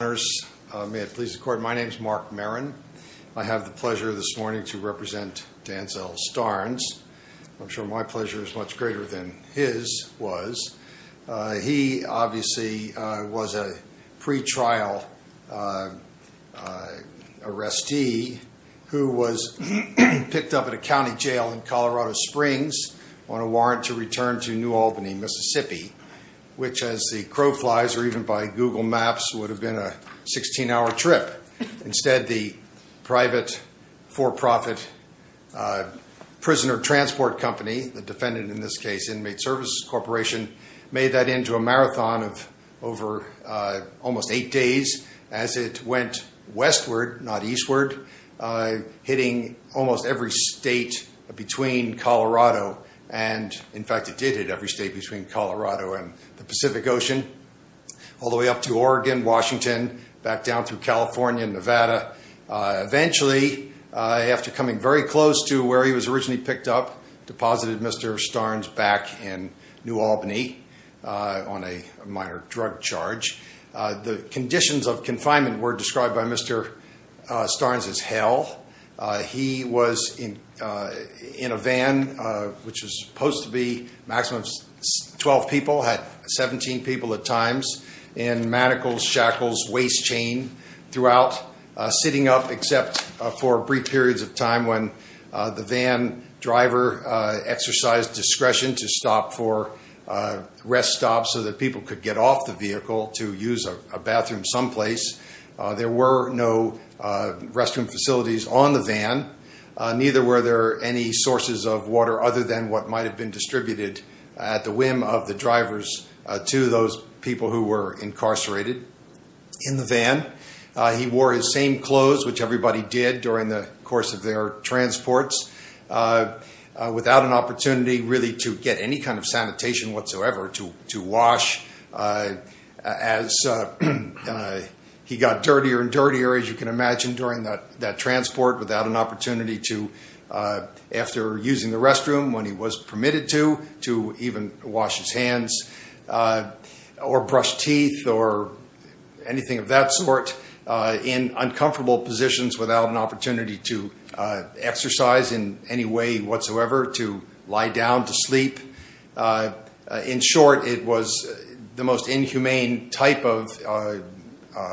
May it please the court, my name is Mark Maron. I have the pleasure this morning to represent Danzel Stearns. I'm sure my pleasure is much greater than his was. He obviously was a pre-trial arrestee who was picked up at a county jail in Colorado Springs on a warrant to return to New Albany, Mississippi, which as the crow flies or even by Google Maps would have been a 16-hour trip. Instead, the private for-profit prisoner transport company, the defendant in this case, Inmate Services Corporation, made that into a marathon of over almost eight days as it went westward, not eastward, hitting almost every state between Colorado and in the Pacific Ocean, all the way up to Oregon, Washington, back down through California, Nevada. Eventually, after coming very close to where he was originally picked up, deposited Mr. Stearns back in New Albany on a minor drug charge. The conditions of confinement were described by Mr. Stearns as hell. He was in a van, which was supposed to be a maximum of 12 people, had 17 people at times, and manacles, shackles, waist chain throughout, sitting up except for brief periods of time when the van driver exercised discretion to stop for rest stops so that people could get off the vehicle to use a bathroom someplace. There were no restroom facilities on the van, neither were there any sources of water other than what might have been distributed at the whim of the drivers to those people who were incarcerated in the van. He wore his same clothes, which everybody did during the course of their transports, without an opportunity really to get any kind of sanitation whatsoever, to wash. As he got dirtier and dirtier, as you can imagine, during that transport without an opportunity to, after using the restroom when he was permitted to, to even wash his hands or brush teeth or anything of that sort in uncomfortable positions without an opportunity to exercise in any way whatsoever, to lie down to sleep. In short, it was the most inhumane type of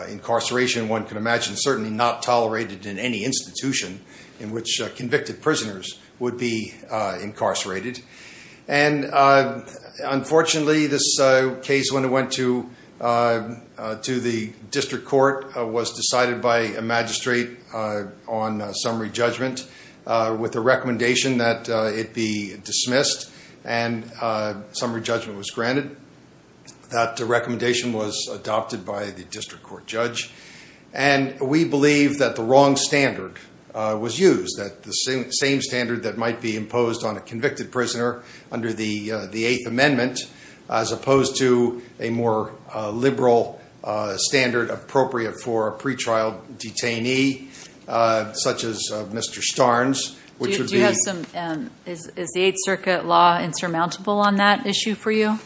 incarceration one could imagine, certainly not tolerated in any institution in which convicted prisoners would be incarcerated. And unfortunately, this case, when it went to the district court, was decided by a magistrate on summary judgment with a recommendation that it be dismissed. And summary judgment was granted. That recommendation was adopted by the district court judge. And we believe that the wrong standard was used, that the same standard that might be imposed on a convicted prisoner under the Eighth Amendment, as opposed to a more liberal standard appropriate for a pretrial detainee, such as Mr. Starnes, which would be... Do you have some... Is the Eighth Circuit law insurmountable on that issue for you?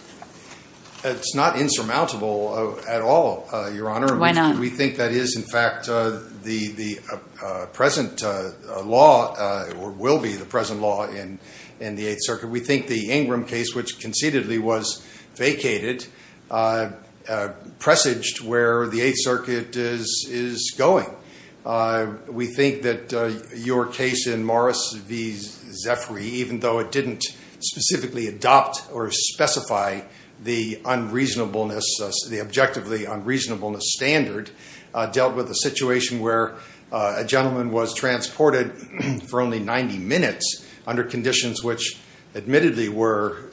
It's not insurmountable at all, Your Honor. Why not? We think that is, in fact, the present law, or will be the present law in the Eighth Circuit. We think the Ingram case, which concededly was vacated, presaged where the Eighth Circuit is going. We think that your case in Morris v. Zephry, even though it didn't specifically adopt or specify the objectively unreasonableness standard, dealt with a situation where a gentleman was transported for only 90 minutes under conditions which admittedly were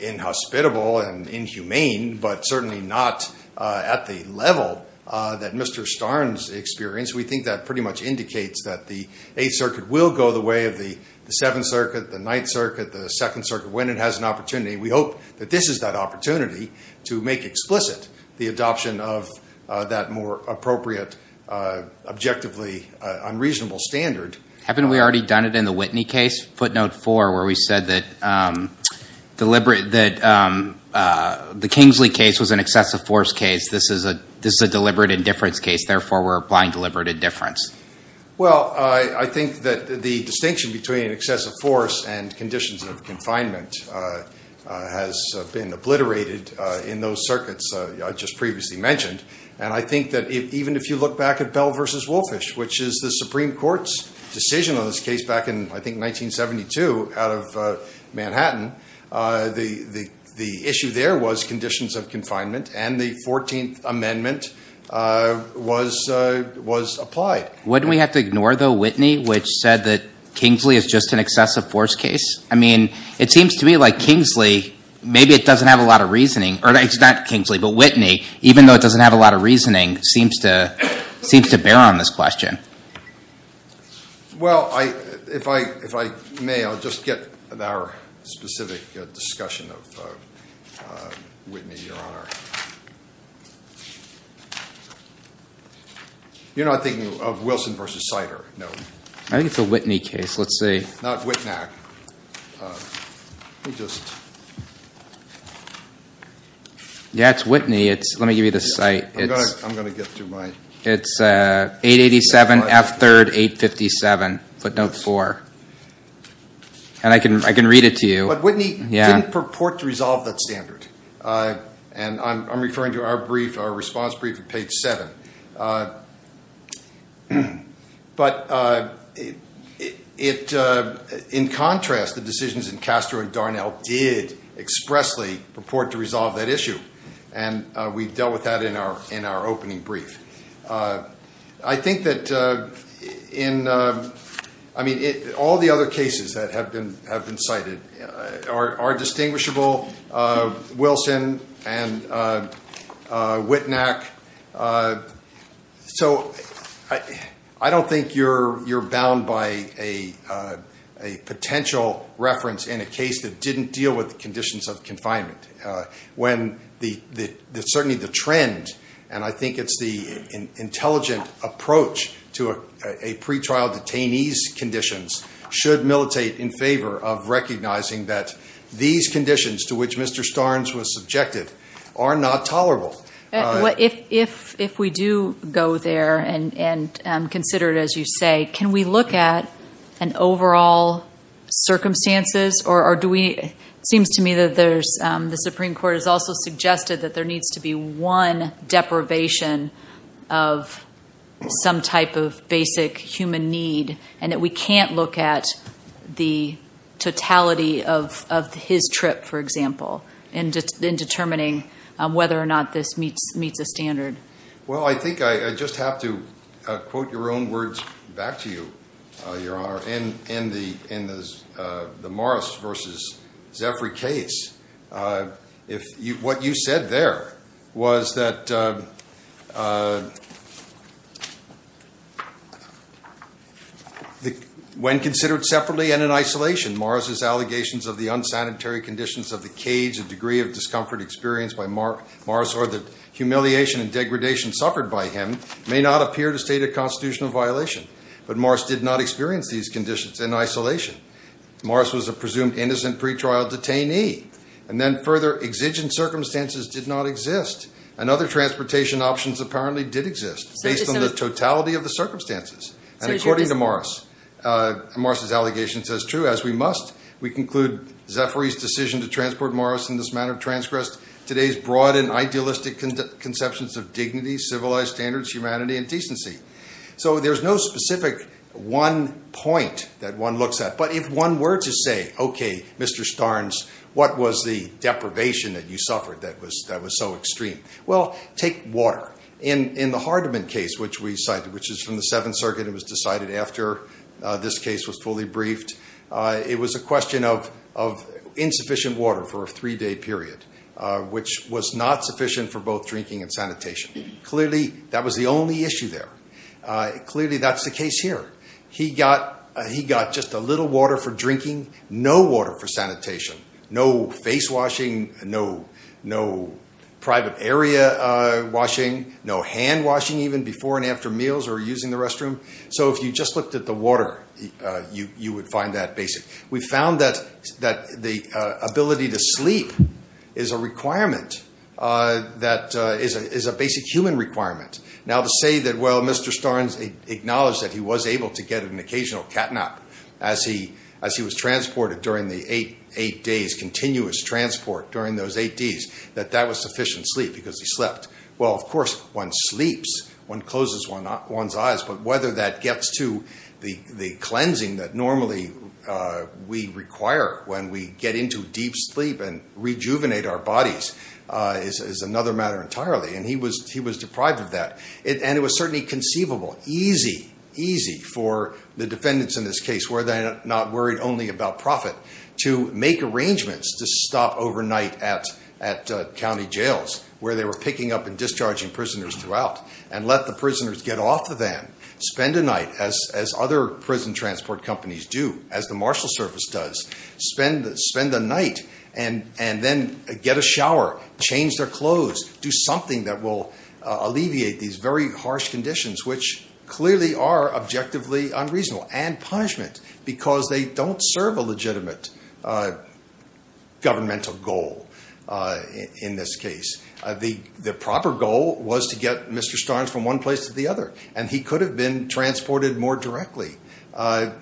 inhospitable and inhumane, but certainly not at the level that Mr. Starnes experienced. We think that pretty much indicates that the Eighth Circuit will go the way of the Seventh Circuit, the Ninth Circuit, the Second Circuit, when it has an opportunity. We hope that this is that unreasonable standard. Haven't we already done it in the Whitney case? Footnote 4, where we said that the Kingsley case was an excessive force case. This is a deliberate indifference case. Therefore, we're applying deliberate indifference. Well, I think that the distinction between excessive force and conditions of confinement has been obliterated in those circuits I just previously mentioned. And I think that even if you look back at Bell v. Woolfish, which is the Supreme Court's decision on this case back in, I think, 1972 out of Manhattan, the issue there was conditions of confinement and the Fourteenth Amendment was applied. Wouldn't we have to ignore, though, Whitney, which said that Kingsley is just an excessive force case? I mean, it seems to me like Kingsley, maybe it doesn't have a lot of reasoning. But Whitney, even though it doesn't have a lot of reasoning, seems to bear on this question. Well, if I may, I'll just get to our specific discussion of Whitney, Your Honor. You're not thinking of Wilson v. Sider, no? I think it's a Whitney case. Let's see. Not Whitnack. Let me just... Yeah, it's Whitney. Let me give you the site. I'm going to get to my... It's 887 F. 3rd 857, footnote 4. And I can read it to you. But Whitney didn't purport to resolve that standard. And I'm referring to our response brief at page 7. But in contrast, the decisions in Castro and Darnell did expressly purport to resolve that issue. And we dealt with that in our opening brief. I think that in... I mean, all the other cases that have been cited are distinguishable. Wilson and Whitnack. So I don't think you're bound by a potential reference in a case that didn't deal with the conditions of confinement. Certainly the trend, and I think it's the intelligent approach to a pretrial detainee's conditions, should militate in favor of recognizing that these conditions to which Mr. Starnes was subjected are not tolerable. If we do go there and consider it, as you say, can we look at an overall circumstances? It seems to me that the Supreme Court has also suggested that there needs to be one deprivation of some type of basic human need, and that we can't look at the totality of his trip, for example, in determining whether or not this meets a standard. Well, I think I just have to quote your own words back to you, Your Honor. In the Morris versus Zephry case, what you said there was that when considered separately and in isolation, Morris's allegations of the unsanitary conditions of the cage, a degree of discomfort experienced by Morris, or the humiliation and degradation suffered by him may not appear to state a constitutional violation. But Morris did not experience these conditions in isolation. Morris was a presumed innocent pretrial detainee. And then further, exigent circumstances did not exist. And other transportation options apparently did exist, based on the totality of the circumstances. And according to Morris, Morris's allegation says, true, as we must, we conclude Zephry's decision to transport Morris in this manner transgressed today's broad and idealistic conceptions of dignity, civilized standards, humanity, and decency. So there's no specific one point that one looks at. But if one were to say, OK, Mr. Starnes, what was the deprivation that you suffered that was so extreme? Well, take water. In the Hardeman case, which we cited, which is from the Seventh Circuit and was decided after this case was fully briefed, it was a question of insufficient water for a three-day period, which was not sufficient for both drinking and sanitation. Clearly, that was the only issue there. Clearly, that's the case here. He got just a little water for drinking, no water for sanitation. No face washing, no private area washing, no hand washing even before and after meals or using the restroom. So if you just looked at the water, you would find that basic. We found that the ability to sleep is a requirement that is a basic human requirement. Now, to say that, well, Mr. Starnes acknowledged that he was able to get an occasional cat nap as he was transported during the eight days, continuous transport during those eight days, that that was sufficient sleep because he slept. Well, of course, one sleeps, one closes one's eyes. But whether that gets to the cleansing that normally we require when we get into deep sleep and rejuvenate our bodies is another matter entirely. And he was deprived of that. And it was certainly conceivable, easy, easy for the defendants in this case, where they're not worried only about profit, to make arrangements to stop overnight at county jails, where they were picking up and discharging prisoners throughout, and let the prisoners get off the van, spend a night, as other prison transport companies do, as the Marshal Service does, spend a night and then get a shower, change their clothes, do something that will alleviate these very harsh conditions, which clearly are objectively unreasonable and punishment because they don't serve a legitimate governmental goal in this case. The proper goal was to get Mr. Starnes from one place to the other, and he could have been transported more directly. And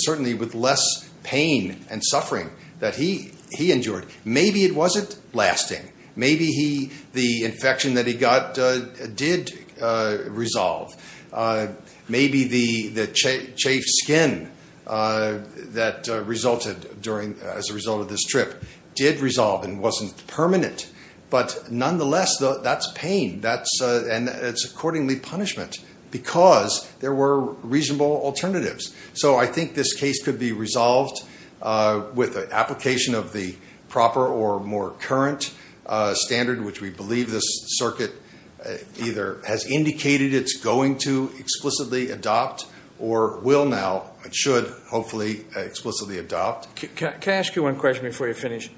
certainly with less pain and suffering that he endured. Maybe it wasn't lasting. Maybe the infection that he got did resolve. Maybe the chafed skin that resulted as a result of this trip did resolve and wasn't permanent. But nonetheless, that's pain. And it's accordingly punishment because there were reasonable alternatives. So I think this case could be resolved with the application of the proper or more current standard, which we believe this circuit either has indicated it's going to explicitly adopt or will now and should hopefully explicitly adopt. Can I ask you one question before you finish?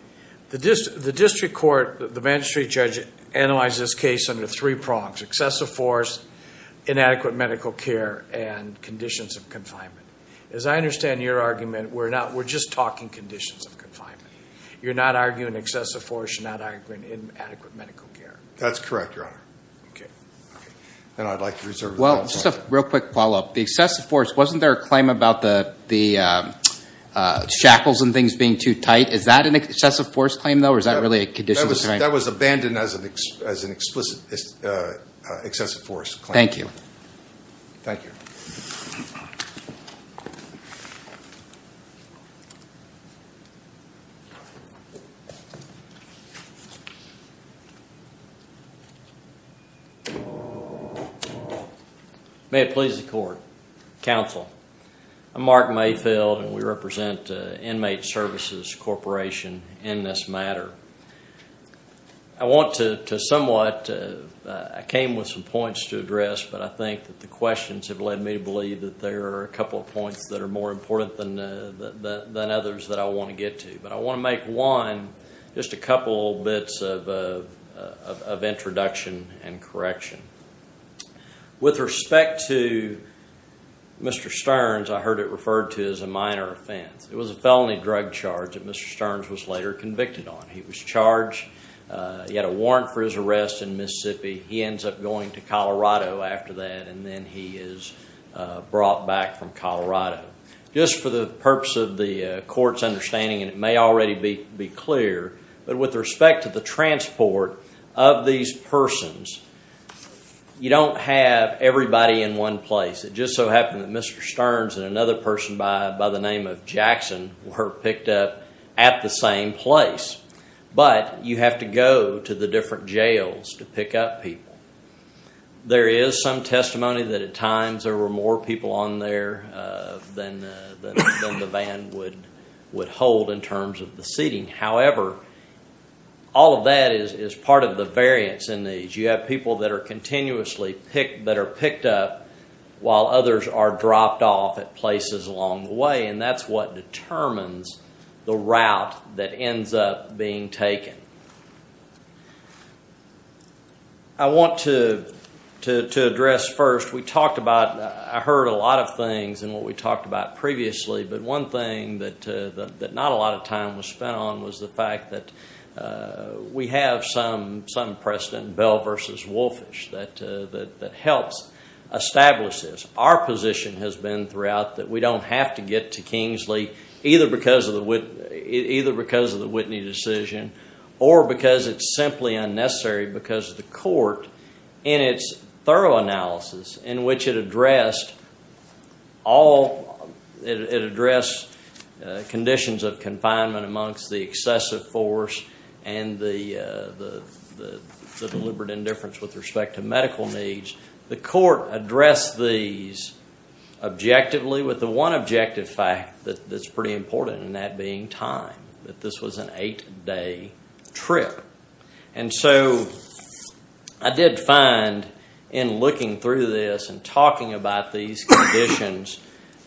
The district court, the magistrate judge, analyzed this case under three prongs. Excessive force, inadequate medical care, and conditions of confinement. As I understand your argument, we're just talking conditions of confinement. You're not arguing excessive force. You're not arguing inadequate medical care. That's correct, Your Honor. Okay. And I'd like to reserve the floor. Well, just a real quick follow-up. The excessive force, wasn't there a claim about the shackles and things being too tight? Is that an excessive force claim, though, or is that really a condition of confinement? That was abandoned as an explicit excessive force claim. Thank you. Thank you. Thank you. May it please the court. Counsel, I'm Mark Mayfield, and we represent Inmate Services Corporation in this matter. I want to somewhat, I came with some points to address, but I think that the questions have led me to believe that there are a couple of points that are more important than others that I want to get to. But I want to make one, just a couple bits of introduction and correction. With respect to Mr. Stearns, I heard it referred to as a minor offense. It was a felony drug charge that Mr. Stearns was later convicted on. He was charged. He had a warrant for his arrest in Mississippi. He ends up going to Colorado after that, and then he is brought back from Colorado. Just for the purpose of the court's understanding, and it may already be clear, but with respect to the transport of these persons, you don't have everybody in one place. It just so happened that Mr. Stearns and another person by the name of Jackson were picked up at the same place. But you have to go to the different jails to pick up people. There is some testimony that at times there were more people on there than the van would hold in terms of the seating. However, all of that is part of the variance in these. You have people that are continuously picked up, while others are dropped off at places along the way, and that's what determines the route that ends up being taken. I want to address first, we talked about, I heard a lot of things in what we talked about previously, but one thing that not a lot of time was spent on was the fact that we have some precedent, Bell v. Wolfish, that helps establish this. Our position has been throughout that we don't have to get to Kingsley, either because of the Whitney decision or because it's simply unnecessary because of the court in its thorough analysis in which it addressed conditions of confinement amongst the excessive force and the deliberate indifference with respect to medical needs. The court addressed these objectively with the one objective fact that's pretty important, and that being time, that this was an eight-day trip. And so I did find in looking through this and talking about these conditions,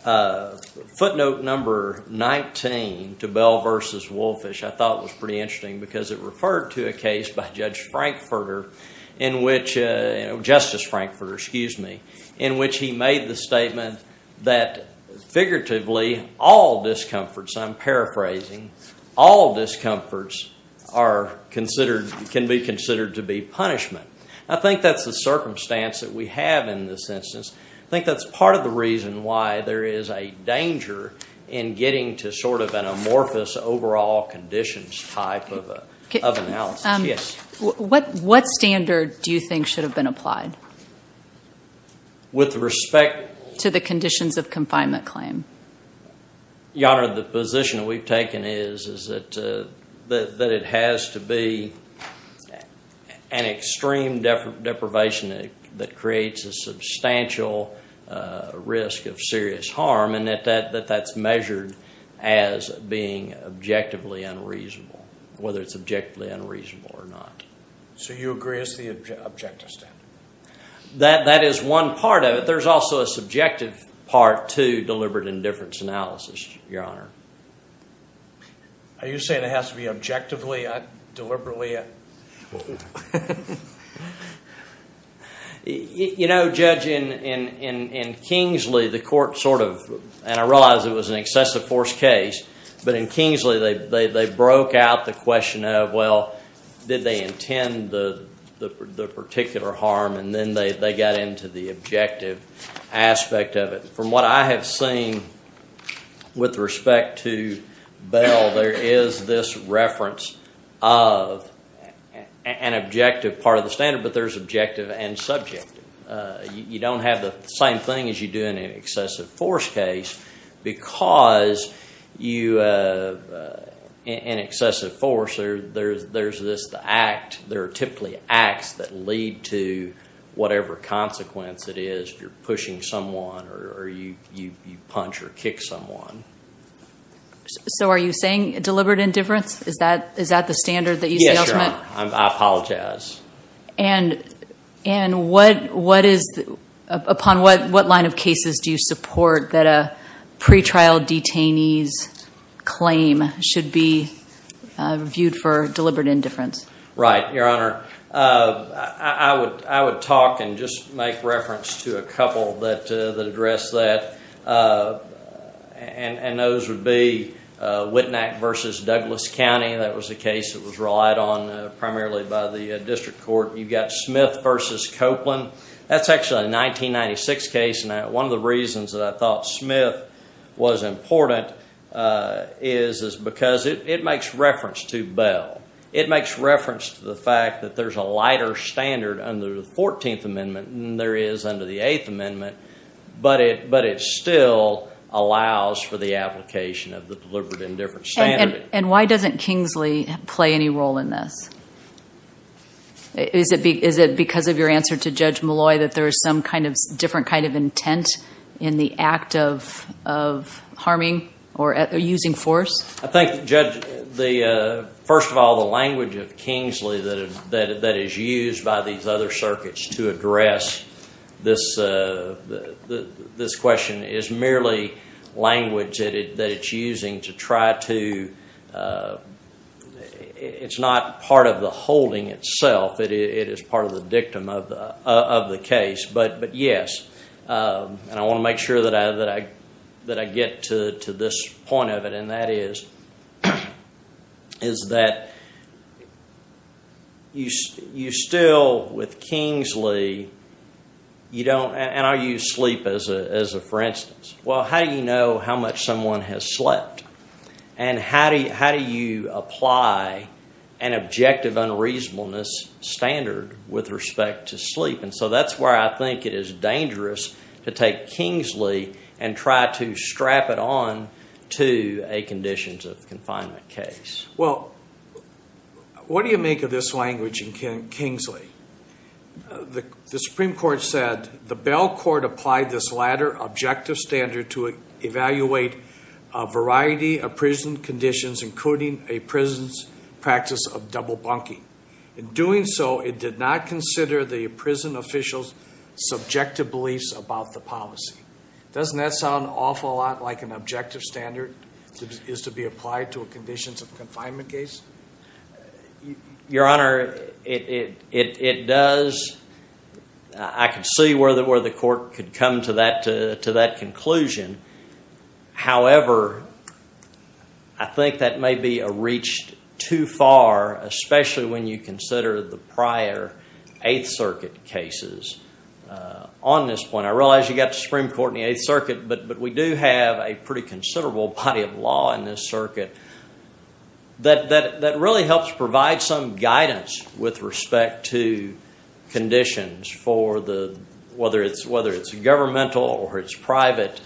footnote number 19 to Bell v. Wolfish I thought was pretty interesting because it referred to a case by Justice Frankfurter in which he made the statement that figuratively all discomforts, I'm paraphrasing, all discomforts can be considered to be punishment. I think that's the circumstance that we have in this instance. I think that's part of the reason why there is a danger in getting to sort of an amorphous overall conditions type of analysis. What standard do you think should have been applied with respect to the conditions of confinement claim? Your Honor, the position we've taken is that it has to be an extreme deprivation that creates a substantial risk of serious harm, and that that's measured as being objectively unreasonable, whether it's objectively unreasonable or not. So you agree it's the objective standard? That is one part of it. There's also a subjective part to deliberate indifference analysis, Your Honor. Are you saying it has to be objectively, not deliberately? You know, Judge, in Kingsley the court sort of, and I realize it was an excessive force case, but in Kingsley they broke out the question of, well, did they intend the particular harm, and then they got into the objective aspect of it. From what I have seen with respect to Bell, there is this reference of an objective part of the standard, but there's objective and subjective. You don't have the same thing as you do in an excessive force case because in excessive force there's this act. There are typically acts that lead to whatever consequence it is. You're pushing someone or you punch or kick someone. So are you saying deliberate indifference? Is that the standard that you see ultimate? Yes, Your Honor. I apologize. And upon what line of cases do you support that a pretrial detainee's claim should be viewed for deliberate indifference? Right, Your Honor. I would talk and just make reference to a couple that address that, and those would be Wittnack v. Douglas County. That was a case that was relied on primarily by the district court. You've got Smith v. Copeland. That's actually a 1996 case, and one of the reasons that I thought Smith was important is because it makes reference to Bell. It makes reference to the fact that there's a lighter standard under the 14th Amendment than there is under the 8th Amendment, but it still allows for the application of the deliberate indifference standard. And why doesn't Kingsley play any role in this? Is it because of your answer to Judge Malloy that there is some kind of different kind of intent in the act of harming or using force? I think, Judge, first of all, the language of Kingsley that is used by these other circuits to address this question is merely language that it's using to try to— it's not part of the holding itself. It is part of the dictum of the case. But yes, and I want to make sure that I get to this point of it, and that is that you still, with Kingsley, you don't— and I'll use sleep as a for instance. Well, how do you know how much someone has slept? And how do you apply an objective unreasonableness standard with respect to sleep? And so that's where I think it is dangerous to take Kingsley and try to strap it on to a conditions of confinement case. Well, what do you make of this language in Kingsley? The Supreme Court said, the bail court applied this latter objective standard to evaluate a variety of prison conditions including a prison's practice of double bunking. In doing so, it did not consider the prison officials' subjective beliefs about the policy. Doesn't that sound an awful lot like an objective standard is to be applied to a conditions of confinement case? Your Honor, it does. I can see where the court could come to that conclusion. However, I think that may be reached too far, especially when you consider the prior Eighth Circuit cases. On this point, I realize you've got the Supreme Court and the Eighth Circuit, but we do have a pretty considerable body of law in this circuit that really helps provide some guidance with respect to conditions for whether it's governmental or it's private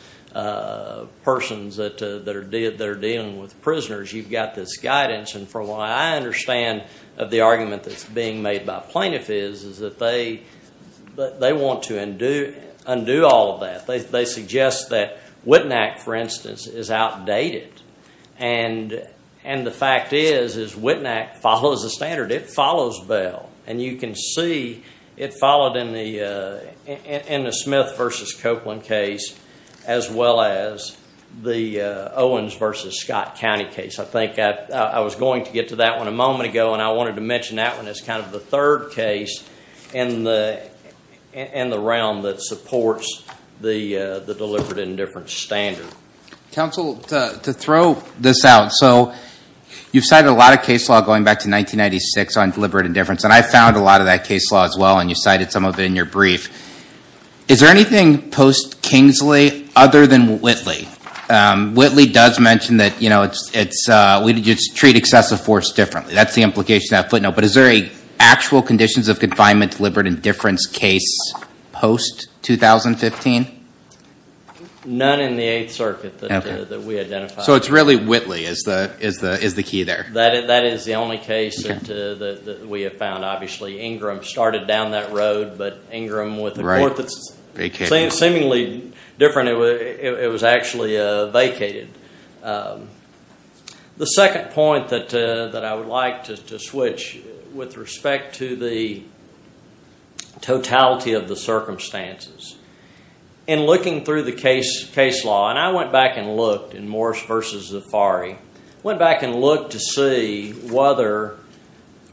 persons that are dealing with prisoners. You've got this guidance. And from what I understand of the argument that's being made by plaintiffs is that they want to undo all of that. They suggest that Wittnack, for instance, is outdated. And the fact is Wittnack follows the standard. It follows bail. And you can see it followed in the Smith v. Copeland case as well as the Owens v. Scott County case. I think I was going to get to that one a moment ago, and I wanted to mention that one as kind of the third case in the realm that supports the deliberate indifference standard. Counsel, to throw this out, so you've cited a lot of case law going back to 1996 on deliberate indifference, and I found a lot of that case law as well, and you cited some of it in your brief. Is there anything post-Kingsley other than Whitley? Whitley does mention that we treat excessive force differently. That's the implication of that footnote. But is there a actual conditions of confinement deliberate indifference case post-2015? None in the Eighth Circuit that we identified. So it's really Whitley is the key there. That is the only case that we have found. Obviously, Ingram started down that road, but Ingram with a court that's seemingly different, it was actually vacated. The second point that I would like to switch, with respect to the totality of the circumstances, in looking through the case law, and I went back and looked in Morris v. Zafari, went back and looked to see whether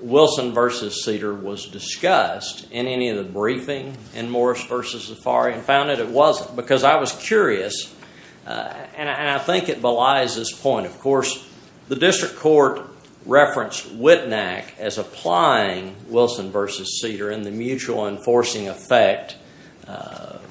Wilson v. Cedar was discussed in any of the briefing in Morris v. Zafari, and found that it wasn't because I was curious, and I think it belies this point. Of course, the district court referenced Wittnack as applying Wilson v. Cedar in the mutual enforcing effect of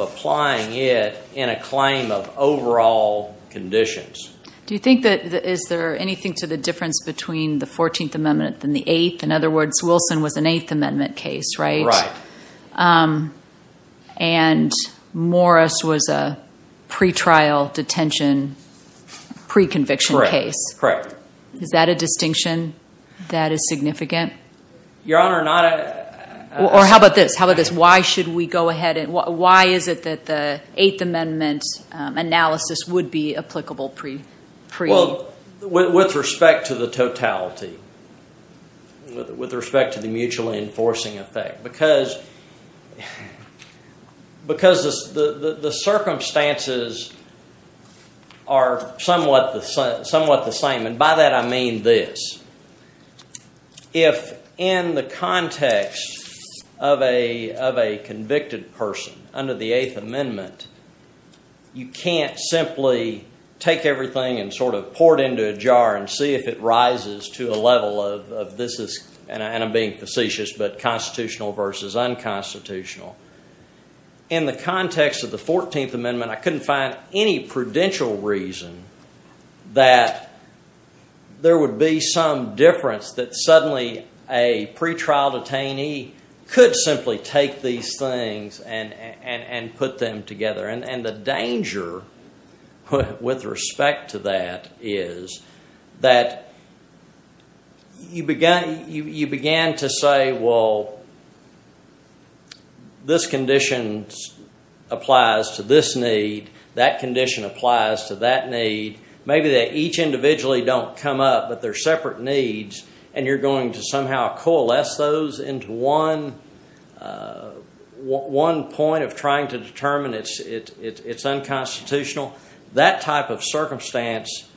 applying it in a claim of overall conditions. Do you think that is there anything to the difference between the 14th Amendment and the 8th? In other words, Wilson was an 8th Amendment case, right? Right. And Morris was a pre-trial detention, pre-conviction case. Correct. Is that a distinction that is significant? Your Honor, not a— Or how about this? Why is it that the 8th Amendment analysis would be applicable pre— Well, with respect to the totality, with respect to the mutual enforcing effect, because the circumstances are somewhat the same, and by that I mean this. If in the context of a convicted person under the 8th Amendment, you can't simply take everything and sort of pour it into a jar and see if it rises to a level of this is— In the context of the 14th Amendment, I couldn't find any prudential reason that there would be some difference that suddenly a pre-trial detainee could simply take these things and put them together. And the danger with respect to that is that you began to say, well, this condition applies to this need. That condition applies to that need. Maybe they each individually don't come up, but they're separate needs, and you're going to somehow coalesce those into one point of trying to determine it's unconstitutional. That type of circumstance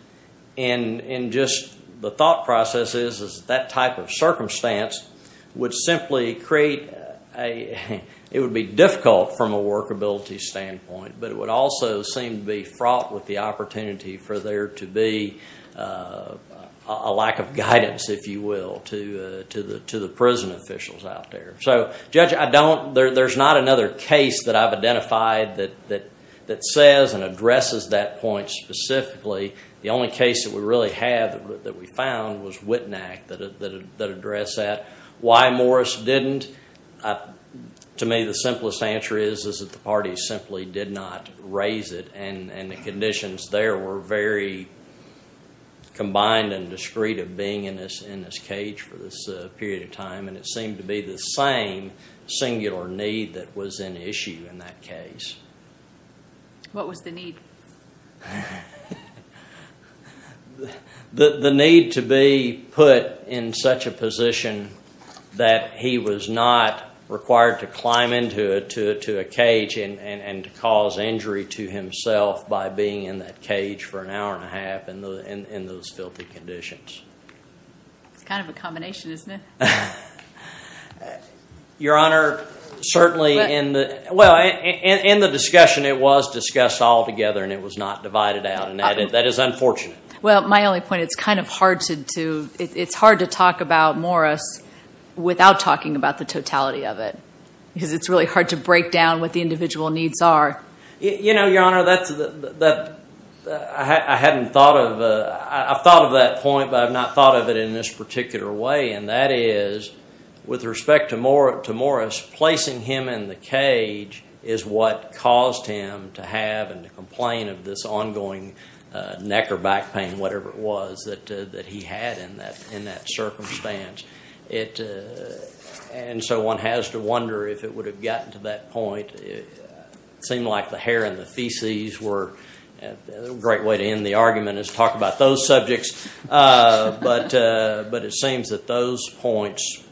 in just the thought process is that type of circumstance would simply create a—it would be difficult from a workability standpoint, but it would also seem to be fraught with the opportunity for there to be a lack of guidance, if you will, to the prison officials out there. So, Judge, there's not another case that I've identified that says and addresses that point specifically. The only case that we really have that we found was Witnack that addressed that. Why Morris didn't? To me, the simplest answer is that the parties simply did not raise it, and the conditions there were very combined and discreet of being in this cage for this period of time, and it seemed to be the same singular need that was an issue in that case. What was the need? The need to be put in such a position that he was not required to climb into a cage and cause injury to himself by being in that cage for an hour and a half in those filthy conditions. It's kind of a combination, isn't it? Your Honor, certainly in the—well, in the discussion, it was discussed altogether, and it was not divided out, and that is unfortunate. Well, my only point, it's kind of hard to talk about Morris without talking about the totality of it because it's really hard to break down what the individual needs are. You know, Your Honor, I haven't thought of—I've thought of that point, but I've not thought of it in this particular way, and that is, with respect to Morris, placing him in the cage is what caused him to have and to complain of this ongoing neck or back pain, whatever it was, that he had in that circumstance. And so one has to wonder if it would have gotten to that point. It seemed like the hair and the feces were— a great way to end the argument is talk about those subjects, but it seems that those points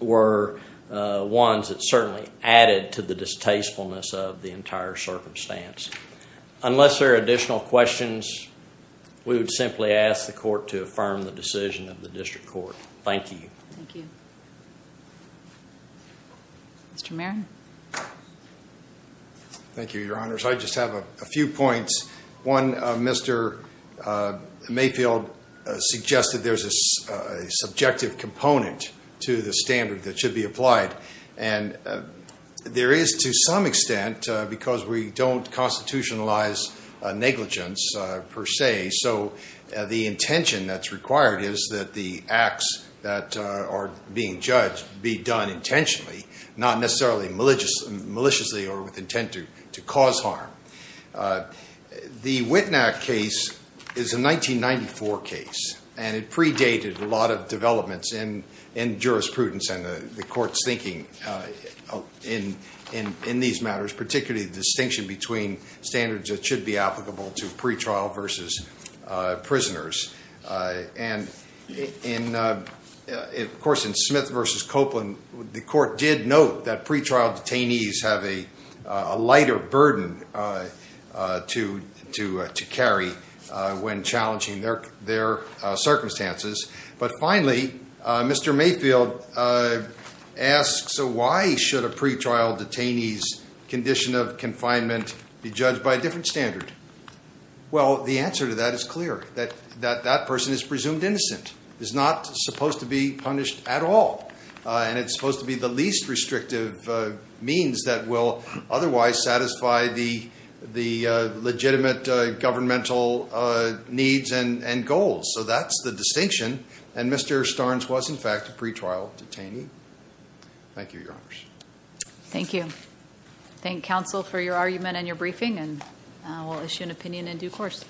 were ones that certainly added to the distastefulness of the entire circumstance. Unless there are additional questions, we would simply ask the Court to affirm the decision of the District Court. Thank you. Thank you. Mr. Marion. Thank you, Your Honors. I just have a few points. One, Mr. Mayfield suggested there's a subjective component to the standard that should be applied, and there is to some extent, because we don't constitutionalize negligence per se, so the intention that's required is that the acts that are being judged be done intentionally, not necessarily maliciously or with intent to cause harm. The Wittnack case is a 1994 case, and it predated a lot of developments in jurisprudence and the Court's thinking in these matters, particularly the distinction between standards that should be applicable to pretrial versus prisoners. And, of course, in Smith v. Copeland, the Court did note that pretrial detainees have a lighter burden to carry when challenging their circumstances. But finally, Mr. Mayfield asks, why should a pretrial detainee's condition of confinement be judged by a different standard? Well, the answer to that is clear, that that person is presumed innocent, is not supposed to be punished at all, and it's supposed to be the least restrictive means that will otherwise satisfy the legitimate governmental needs and goals. So that's the distinction, and Mr. Starnes was, in fact, a pretrial detainee. Thank you, Your Honors. Thank you. Thank counsel for your argument and your briefing, and we'll issue an opinion in due course.